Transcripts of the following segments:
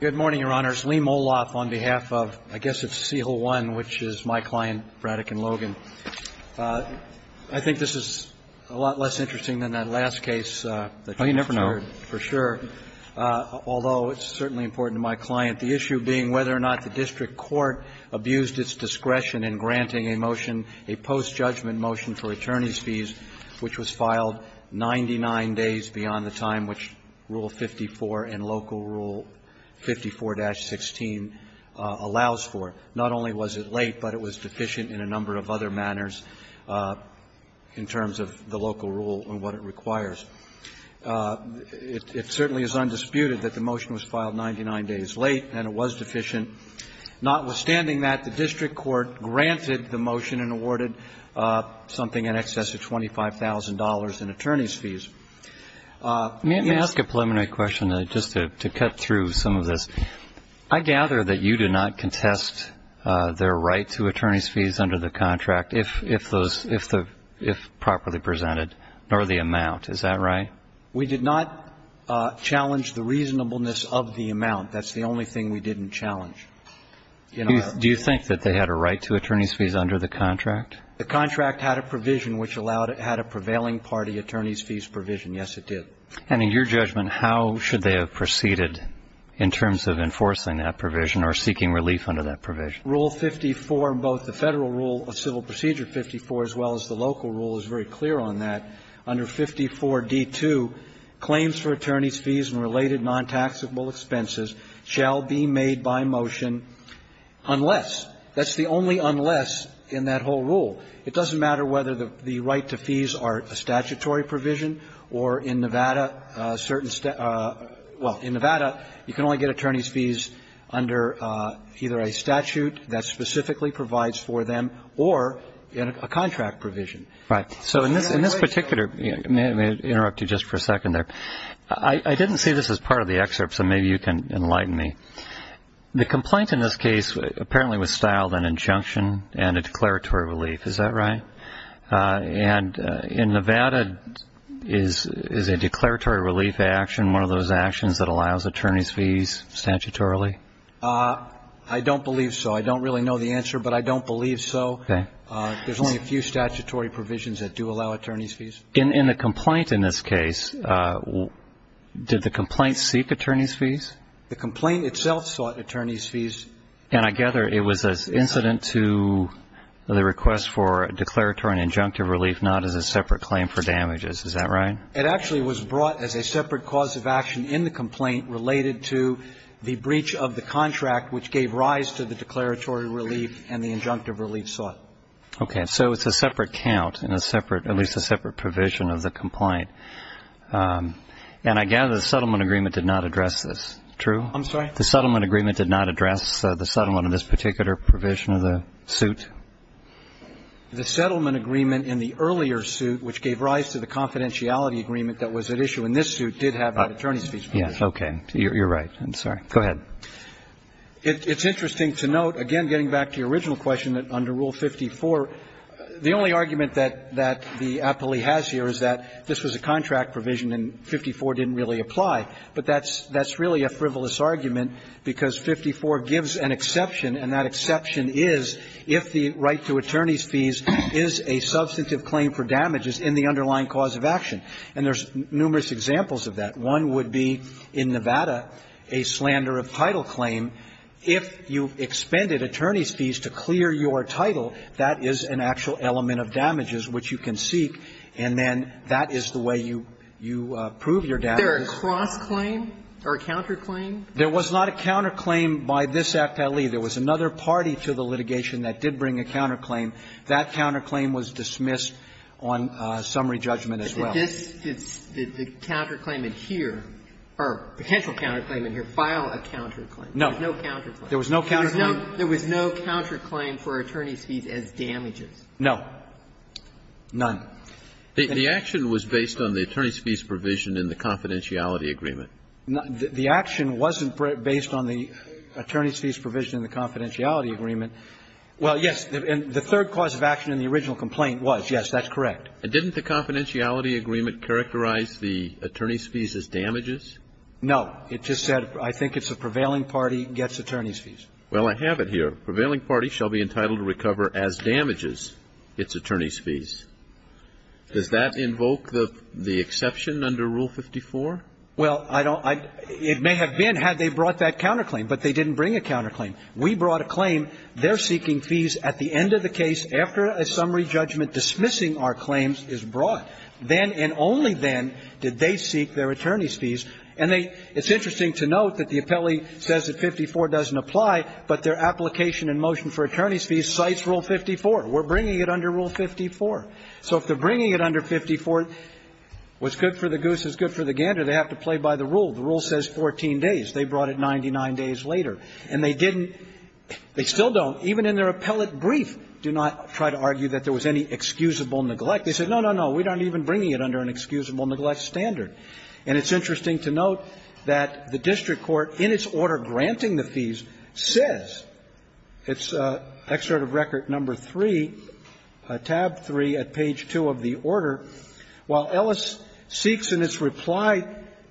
Good morning, Your Honors. Lee Moloff on behalf of, I guess it's Seal 1, which is my client, Braddock and Logan. I think this is a lot less interesting than that last case that Oh, you never know. For sure. Although, it's certainly important to my client. The issue being whether or not the district court abused its discretion in granting a motion, a post-judgment motion for attorney's fees, which was filed 99 days beyond the time which Rule 54 and local Rule 54-16 allows for. Not only was it late, but it was deficient in a number of other manners in terms of the local rule and what it requires. It certainly is undisputed that the motion was filed 99 days late, and it was deficient. Notwithstanding that, the district court granted the motion and awarded something in excess of $25,000 in attorney's fees. May I ask a preliminary question just to cut through some of this? I gather that you did not contest their right to attorney's fees under the contract, if those, if properly presented, nor the amount. Is that right? We did not challenge the reasonableness of the amount. That's the only thing we didn't challenge. Do you think that they had a right to attorney's fees under the contract? The contract had a provision which allowed it had a prevailing party attorney's fees provision. Yes, it did. And in your judgment, how should they have proceeded in terms of enforcing that provision or seeking relief under that provision? Rule 54, both the Federal Rule of Civil Procedure 54, as well as the local rule, is very clear on that. Under 54d2, claims for attorney's fees and related non-taxable expenses shall be made by motion unless. That's the only unless in that whole rule. It doesn't matter whether the right to fees are a statutory provision or in Nevada, a certain, well, in Nevada, you can only get attorney's fees under either a statute that specifically provides for them or in a contract provision. Right. So in this particular, may I interrupt you just for a second there? I didn't see this as part of the excerpt, so maybe you can enlighten me. The complaint in this case apparently was styled an injunction and a declaratory relief. Is that right? And in Nevada, is a declaratory relief action one of those actions that allows attorney's fees statutorily? I don't believe so. I don't really know the answer, but I don't believe so. There's only a few statutory provisions that do allow attorney's fees. In the complaint in this case, did the complaint seek attorney's fees? The complaint itself sought attorney's fees. And I gather it was an incident to the request for declaratory and injunctive relief, not as a separate claim for damages. Is that right? It actually was brought as a separate cause of action in the complaint related to the breach of the contract, which gave rise to the declaratory relief and the injunctive relief sought. Okay. So it's a separate count and a separate, at least a separate provision of the complaint. And I gather the settlement agreement did not address this. True? I'm sorry? The settlement agreement did not address the settlement of this particular provision of the suit? The settlement agreement in the earlier suit, which gave rise to the confidentiality agreement that was at issue in this suit, did have that attorney's fees provision. Yes. Okay. You're right. I'm sorry. Go ahead. It's interesting to note, again, getting back to your original question, that under Rule 54, the only argument that the appellee has here is that this was a contract provision and 54 didn't really apply. But that's really a frivolous argument, because 54 gives an exception, and that exception is if the right to attorney's fees is a substantive claim for damages in the underlying cause of action. And there's numerous examples of that. One would be in Nevada, a slander of title claim. If you that is an actual element of damages, which you can seek, and then that is the way you prove your damages. Is there a cross-claim or a counterclaim? There was not a counterclaim by this appellee. There was another party to the litigation that did bring a counterclaim. That counterclaim was dismissed on summary judgment as well. Did this – did the counterclaim in here, or potential counterclaim in here, file a counterclaim? No. There was no counterclaim. There was no counterclaim. And there was no counterclaim for attorney's fees as damages? No, none. The action was based on the attorney's fees provision in the confidentiality agreement. The action wasn't based on the attorney's fees provision in the confidentiality agreement. Well, yes, the third cause of action in the original complaint was, yes, that's correct. And didn't the confidentiality agreement characterize the attorney's fees as damages? No. It just said, I think it's a prevailing party gets attorney's fees. Well, I have it here. Prevailing party shall be entitled to recover as damages its attorney's fees. Does that invoke the exception under Rule 54? Well, I don't – it may have been had they brought that counterclaim, but they didn't bring a counterclaim. We brought a claim. They're seeking fees at the end of the case after a summary judgment dismissing our claims is brought. Then and only then did they seek their attorney's fees. And they – it's interesting to note that the appellee says that 54 doesn't apply, but their application and motion for attorney's fees cites Rule 54. We're bringing it under Rule 54. So if they're bringing it under 54, what's good for the goose is good for the gander. They have to play by the rule. The rule says 14 days. They brought it 99 days later. And they didn't – they still don't, even in their appellate brief, do not try to argue that there was any excusable neglect. They said, no, no, no, we aren't even bringing it under an excusable neglect standard. And it's interesting to note that the district court, in its order granting the fees, says – it's excerpt of record number 3, tab 3 at page 2 of the order – while Ellis seeks in its reply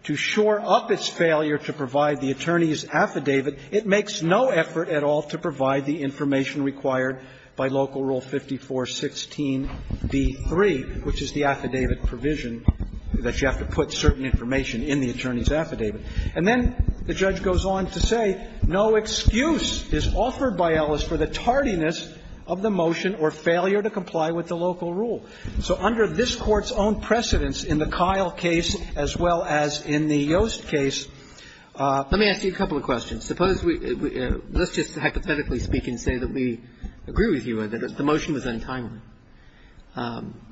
to shore up its failure to provide the attorney's affidavit, it makes no effort at all to provide the information required by local rule 5416b3, which is the affidavit provision that you have to put certain information in the attorney's affidavit. And then the judge goes on to say, no excuse is offered by Ellis for the tardiness of the motion or failure to comply with the local rule. So under this Court's own precedence in the Kyle case as well as in the Yost case – Let me ask you a couple of questions. Suppose we – let's just hypothetically speak and say that we agree with you, that the motion was untimely.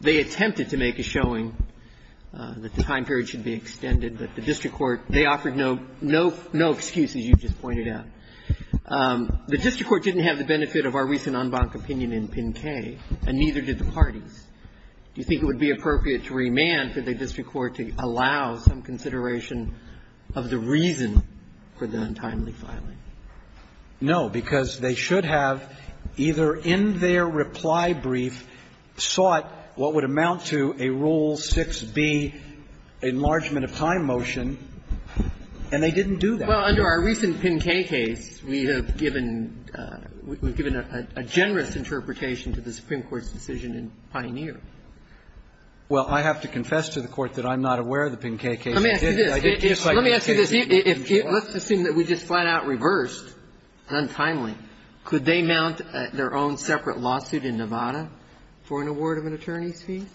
They attempted to make a showing that the time period should be extended, but the district court – they offered no – no excuses, you just pointed out. The district court didn't have the benefit of our recent en banc opinion in Pin K, and neither did the parties. Do you think it would be appropriate to remand for the district court to allow some consideration of the reason for the untimely filing? No, because they should have either in their reply brief sought what would amount to a Rule 6b enlargement of time motion, and they didn't do that. Well, under our recent Pin K case, we have given – we've given a generous interpretation to the Supreme Court's decision in Pioneer. Well, I have to confess to the Court that I'm not aware of the Pin K case. I did just like Pin K. Let me ask you this. Let's assume that we just flat out reversed untimely. Could they mount their own separate lawsuit in Nevada for an award of an attorney's fee?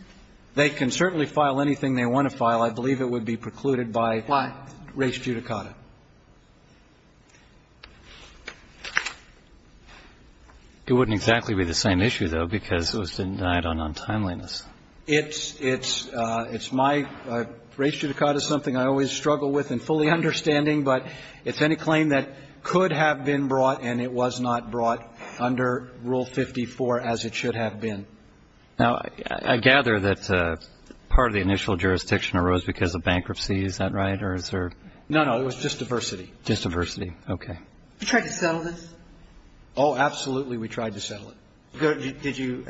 They can certainly file anything they want to file. I believe it would be precluded by race judicata. It wouldn't exactly be the same issue, though, because it was denied on untimeliness. It's – it's – it's my – race judicata is something I always struggle with in fully understanding, but it's any claim that could have been brought and it was not brought under Rule 54 as it should have been. Now, I gather that part of the initial jurisdiction arose because of bankruptcy. Is that right, or is there – No, no. It was just diversity. Just diversity. Okay. Did you try to settle this? Oh, absolutely we tried to settle it. Did you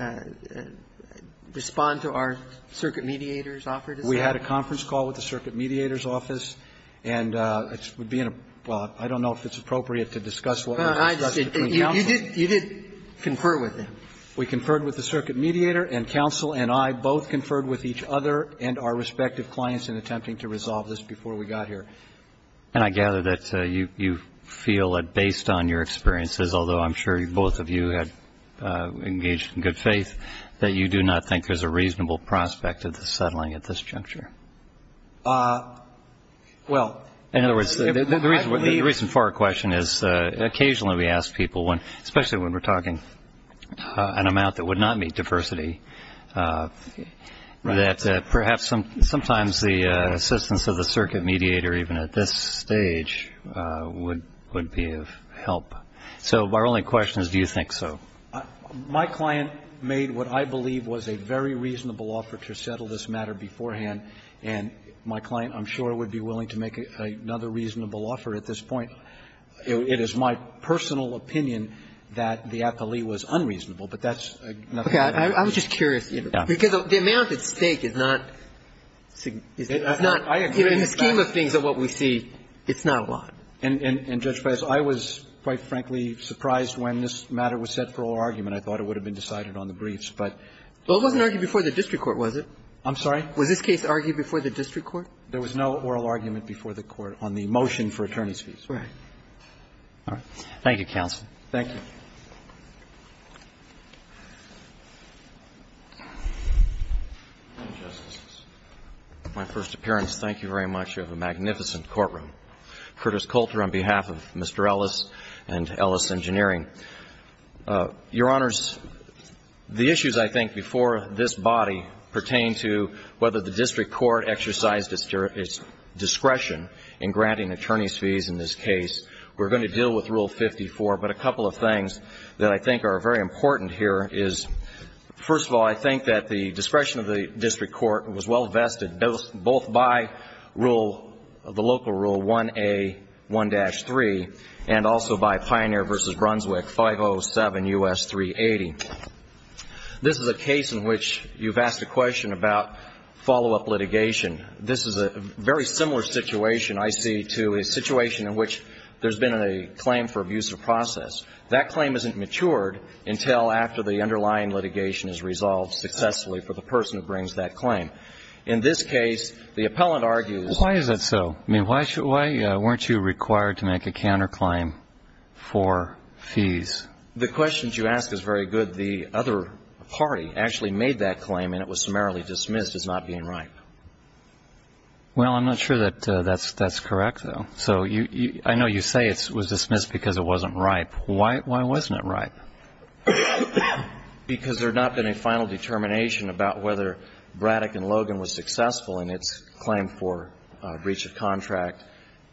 respond to our circuit mediator's offer to settle it? We had a conference call with the circuit mediator's office, and it would be an – well, I don't know if it's appropriate to discuss what we discussed between counsel. You did confer with him. We conferred with the circuit mediator, and counsel and I both conferred with each other and our respective clients in attempting to resolve this before we got here. And I gather that you feel that based on your experiences, although I'm sure both of you had engaged in good faith, that you do not think there's a reasonable prospect of the settling at this juncture. Well – In other words, the reason for our question is occasionally we ask people when – especially when we're talking an amount that would not meet diversity, that perhaps sometimes the assistance of the circuit mediator even at this stage would be of help. So our only question is, do you think so? My client made what I believe was a very reasonable offer to settle this matter beforehand, and my client, I'm sure, would be willing to make another reasonable offer at this point. It is my personal opinion that the athlete was unreasonable, but that's not the case. I'm just curious, because the amount at stake is not – in the scheme of things of what we see, it's not a lot. And, Judge Pez, I was, quite frankly, surprised when this matter was set for oral argument. I thought it would have been decided on the briefs, but – Well, it wasn't argued before the district court, was it? I'm sorry? Was this case argued before the district court? There was no oral argument before the court on the motion for attorney's fees. Right. All right. Thank you, counsel. Thank you. Justice, on my first appearance, thank you very much. You have a magnificent courtroom. Curtis Coulter on behalf of Mr. Ellis and Ellis Engineering. Your Honors, the issues, I think, before this body pertain to whether the district court exercised its discretion in granting attorney's fees in this case. We're going to deal with Rule 54, but a couple of things that I think are very important here is, first of all, I think that the discretion of the district court was well-vested, both by the local Rule 1A1-3 and also by Pioneer v. Brunswick 507 U.S. 380. This is a case in which you've asked a question about follow-up litigation. This is a very similar situation, I see, to a situation in which there's been a claim for abuse of process. That claim isn't matured until after the underlying litigation is resolved successfully for the person who brings that claim. In this case, the appellant argues why is it so? I mean, why weren't you required to make a counterclaim for fees? The question you ask is very good. The other party actually made that claim, and it was summarily dismissed as not being ripe. Well, I'm not sure that that's correct, though. So I know you say it was dismissed because it wasn't ripe. Why wasn't it ripe? Because there had not been a final determination about whether Braddock and Logan was successful in its claim for breach of contract,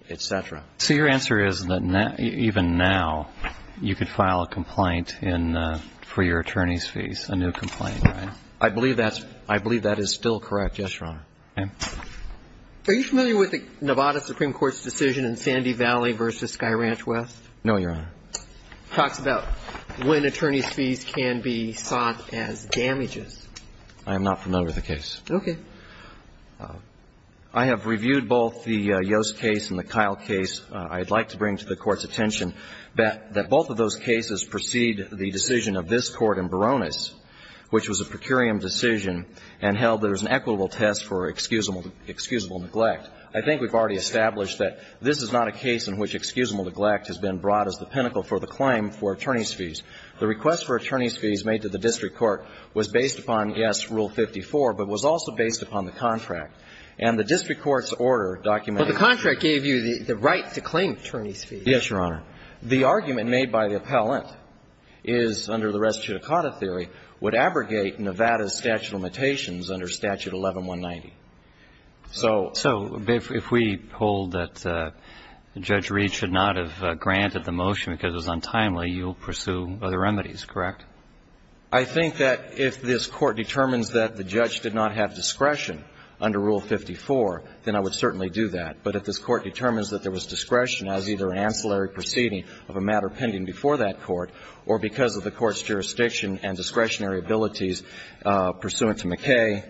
et cetera. So your answer is that even now you could file a complaint in the ---- for your attorney's fees, a new complaint, right? I believe that's ---- I believe that is still correct. Yes, Your Honor. Are you familiar with the Nevada Supreme Court's decision in Sandy Valley v. Sky Ranch West? No, Your Honor. It talks about when attorney's fees can be sought as damages. I am not familiar with the case. Okay. I have reviewed both the Yoast case and the Kyle case. I'd like to bring to the Court's attention that both of those cases precede the decision of this Court in Baronis, which was a per curiam decision and held that it was an equitable test for excusable neglect. I think we've already established that this is not a case in which excusable neglect has been brought as the pinnacle for the claim for attorney's fees. The request for attorney's fees made to the district court was based upon, yes, Rule 54, but was also based upon the contract. And the district court's order documenting ---- But the contract gave you the right to claim attorney's fees. Yes, Your Honor. The argument made by the appellant is, under the restitute-acada theory, would abrogate Nevada's statute of limitations under Statute 11-190. So if we hold that Judge Reed should not have granted the motion because it was untimely, you'll pursue other remedies, correct? I think that if this Court determines that the judge did not have discretion under Rule 54, then I would certainly do that. But if this Court determines that there was discretion as either an ancillary proceeding of a matter pending before that Court or because of the Court's jurisdiction and discretionary abilities pursuant to McKay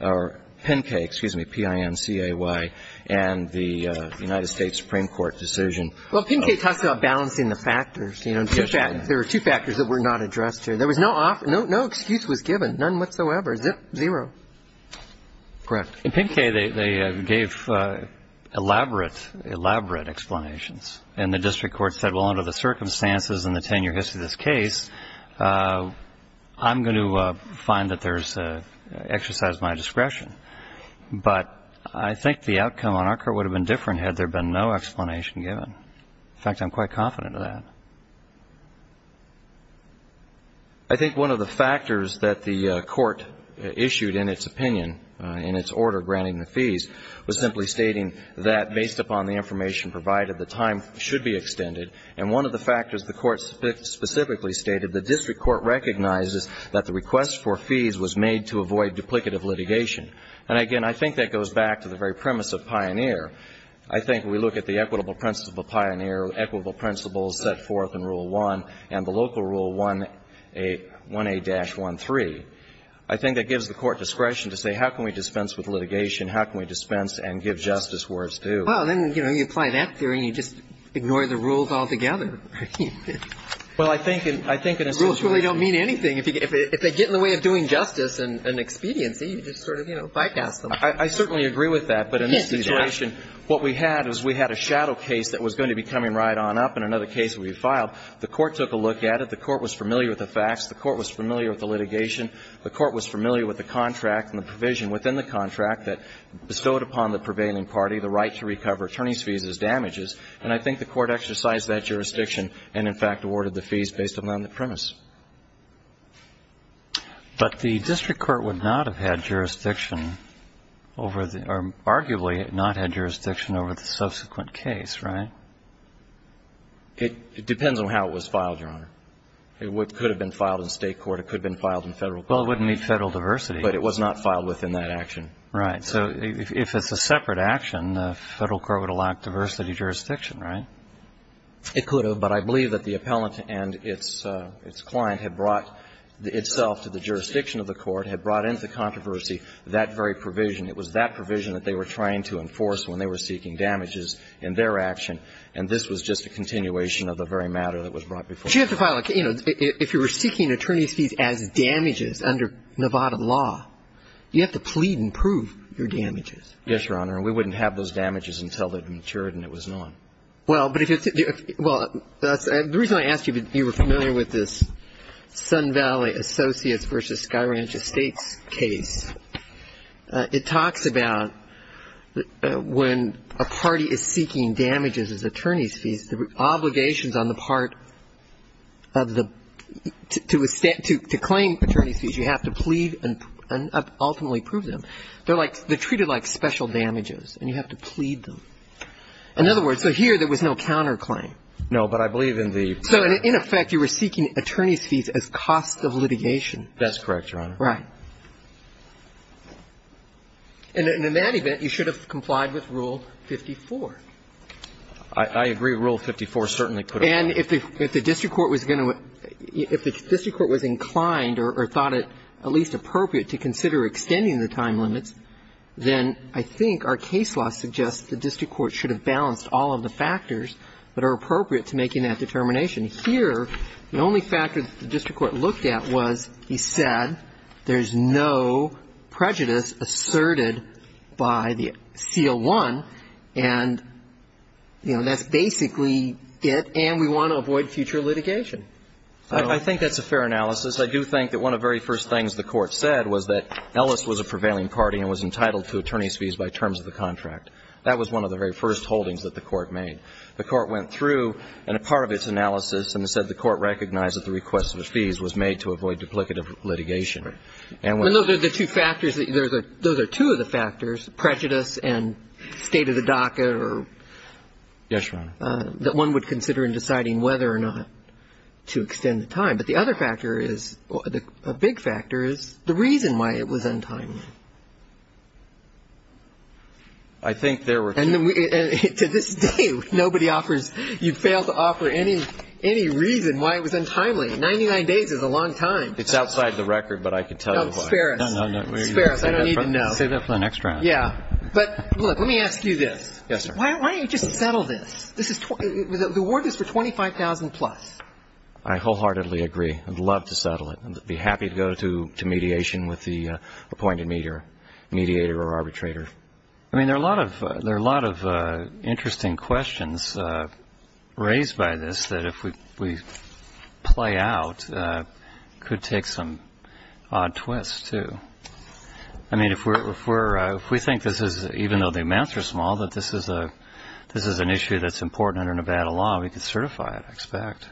or Pincay, excuse me, P-I-N-C-A-Y, and the United States Supreme Court decision ---- Well, Pincay talks about balancing the factors, you know. There are two factors that were not addressed here. There was no off ---- no excuse was given, none whatsoever, zero. Correct. In Pincay, they gave elaborate, elaborate explanations. And the district court said, well, under the circumstances and the 10-year history of this case, I'm going to find that there's exercise of my discretion. But I think the outcome on our Court would have been different had there been no explanation given. In fact, I'm quite confident of that. I think one of the factors that the Court issued in its opinion, in its order granting the fees, was simply stating that based upon the information provided, the time should be extended. And one of the factors the Court specifically stated, the district court recognizes that the request for fees was made to avoid duplicative litigation. And, again, I think that goes back to the very premise of Pioneer. I think we look at the equitable principle of Pioneer, equitable principles set forth in Rule 1 and the local Rule 1A-13, I think that gives the Court discretion to say how can we dispense with litigation, how can we dispense and give justice where it's due. Well, then, you know, you apply that theory and you just ignore the rules altogether. Rules really don't mean anything. If they get in the way of doing justice and expediency, you just sort of, you know, bypass them. I certainly agree with that. But in this situation, what we had was we had a shadow case that was going to be coming right on up and another case would be filed. The Court took a look at it. The Court was familiar with the facts. The Court was familiar with the litigation. The Court was familiar with the contract and the provision within the contract that bestowed upon the prevailing party the right to recover attorney's fees as damages. And I think the Court exercised that jurisdiction and, in fact, awarded the fees based upon the premise. But the district court would not have had jurisdiction over the or arguably not had jurisdiction over the subsequent case, right? It depends on how it was filed, Your Honor. It could have been filed in state court. It could have been filed in federal court. Well, it wouldn't meet federal diversity. But it was not filed within that action. Right. So if it's a separate action, the federal court would have lacked diversity jurisdiction, right? It could have. But I believe that the appellant and its client had brought itself to the jurisdiction of the Court, had brought into controversy that very provision. It was that provision that they were trying to enforce when they were seeking damages in their action. And this was just a continuation of the very matter that was brought before the Court. But you have to file a case. If you were seeking attorney's fees as damages under Nevada law, you have to plead and prove your damages. Yes, Your Honor. And we wouldn't have those damages until they'd matured and it was known. Well, but if it's, well, the reason I asked you, you were familiar with this Sun Valley Associates versus Sky Ranch Estates case. It talks about when a party is seeking damages as attorney's fees, the obligations on the part of the, to claim attorney's fees, you have to plead and ultimately prove them. They're like, they're treated like special damages and you have to plead them. In other words, so here there was no counterclaim. No, but I believe in the. So in effect, you were seeking attorney's fees as cost of litigation. That's correct, Your Honor. Right. And in that event, you should have complied with Rule 54. I agree. Rule 54 certainly could have. And if the district court was going to, if the district court was inclined or thought it at least appropriate to consider extending the time limits, then I think our case law suggests the district court should have balanced all of the factors that are appropriate to making that determination. Here, the only factor that the district court looked at was he said, there's no prejudice asserted by the CL1 and, you know, that's basically it. And we want to avoid future litigation. I think that's a fair analysis. I do think that one of the very first things the court said was that Ellis was a prevailing party and was entitled to attorney's fees by terms of the contract. That was one of the very first holdings that the court made. The court went through and a part of its analysis and said the court recognized that the request of the fees was made to avoid duplicative litigation. And when. Those are the two factors, those are two of the factors, prejudice and state of the docket or. Yes, Your Honor. That one would consider in deciding whether or not to extend the time. But the other factor is a big factor is the reason why it was untimely. I think there were. And to this day, nobody offers you fail to offer any any reason why it was untimely. Ninety nine days is a long time. It's outside the record, but I could tell you. Spare us. Spare us. I don't need to know. Save that for the next round. Yeah. But let me ask you this. Yes, sir. Why don't you just settle this? This is the word is for twenty five thousand plus. I wholeheartedly agree. I'd love to settle it and be happy to go to to mediation with the appointed meter, mediator or arbitrator. I mean, there are a lot of there are a lot of interesting questions raised by this that if we we play out could take some odd twists to. I mean, if we're if we're if we think this is even though the amounts are small, that this is a this is an issue that's important under Nevada law. We could certify it. I expect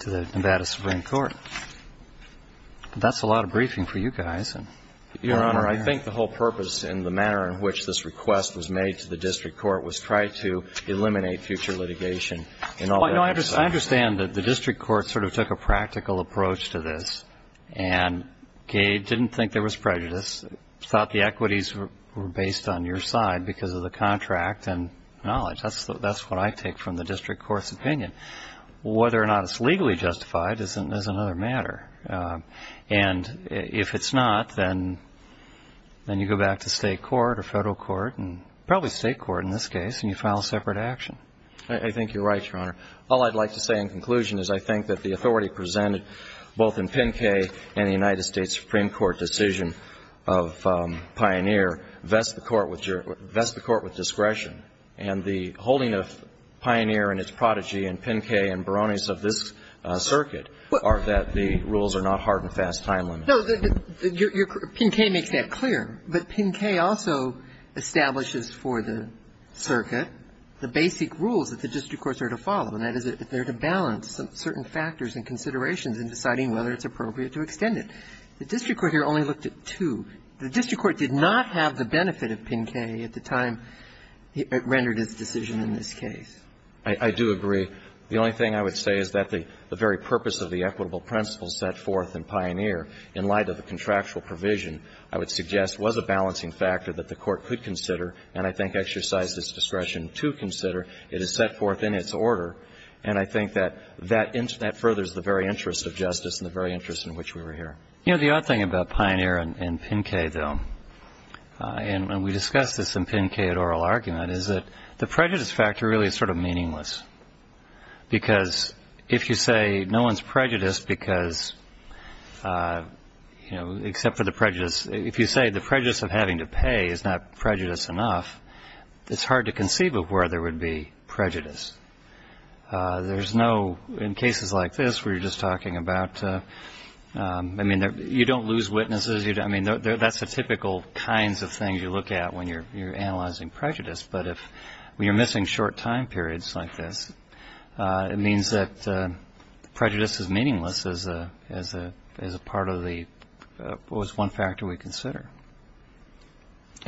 to the Nevada Supreme Court. That's a lot of briefing for you guys. And your honor, I think the whole purpose in the manner in which this request was made to the district court was try to eliminate future litigation. You know, I understand that the district court sort of took a practical approach to this and didn't think there was prejudice, thought the equities were based on your side because of the contract and knowledge. That's what I take from the district court's opinion. Whether or not it's legally justified is another matter. And if it's not, then then you go back to state court or federal court and probably state court in this case. And you file a separate action. I think you're right, Your Honor. All I'd like to say in conclusion is I think that the authority presented both in pin K and the United States Supreme Court decision of Pioneer vests the court with vest the court with discretion. And the holding of Pioneer and its prodigy and pin K and Baronis of this circuit are that the rules are not hard and fast time limits. No, pin K makes that clear. But pin K also establishes for the circuit the basic rules that the district courts are to follow. And that is that they're to balance certain factors and considerations in deciding whether it's appropriate to extend it. The district court here only looked at two. The district court did not have the benefit of pin K at the time it rendered its decision in this case. I do agree. The only thing I would say is that the very purpose of the equitable principle set forth in Pioneer in light of the contractual provision, I would suggest, was a balancing factor that the court could consider and I think exercised its discretion to consider. It is set forth in its order. And I think that that furthers the very interest of justice and the very interest in which we were hearing. You know, the odd thing about Pioneer and pin K, though, and we discussed this in pin K at oral argument, is that the prejudice factor really is sort of meaningless. Because if you say no one's prejudiced because, you know, except for the prejudice, if you say the prejudice of having to pay is not prejudiced enough, it's hard to conceive of where there would be prejudice. There's no, in cases like this, where you're just talking about, I mean, you don't lose witnesses. I mean, that's the typical kinds of things you look at when you're analyzing prejudice. But if you're missing short time periods like this, it means that prejudice is meaningless as a part of the, was one factor we consider.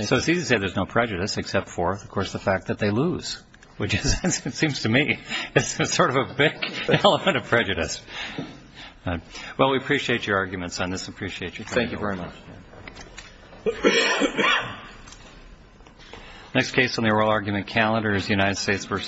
So it's easy to say there's no prejudice except for, of course, the fact that they lose, which is, it seems to me, it's sort of a big element of prejudice. Well, we appreciate your arguments on this. Appreciate your time. Thank you very much. Next case on the oral argument calendar is United States v. Camacho.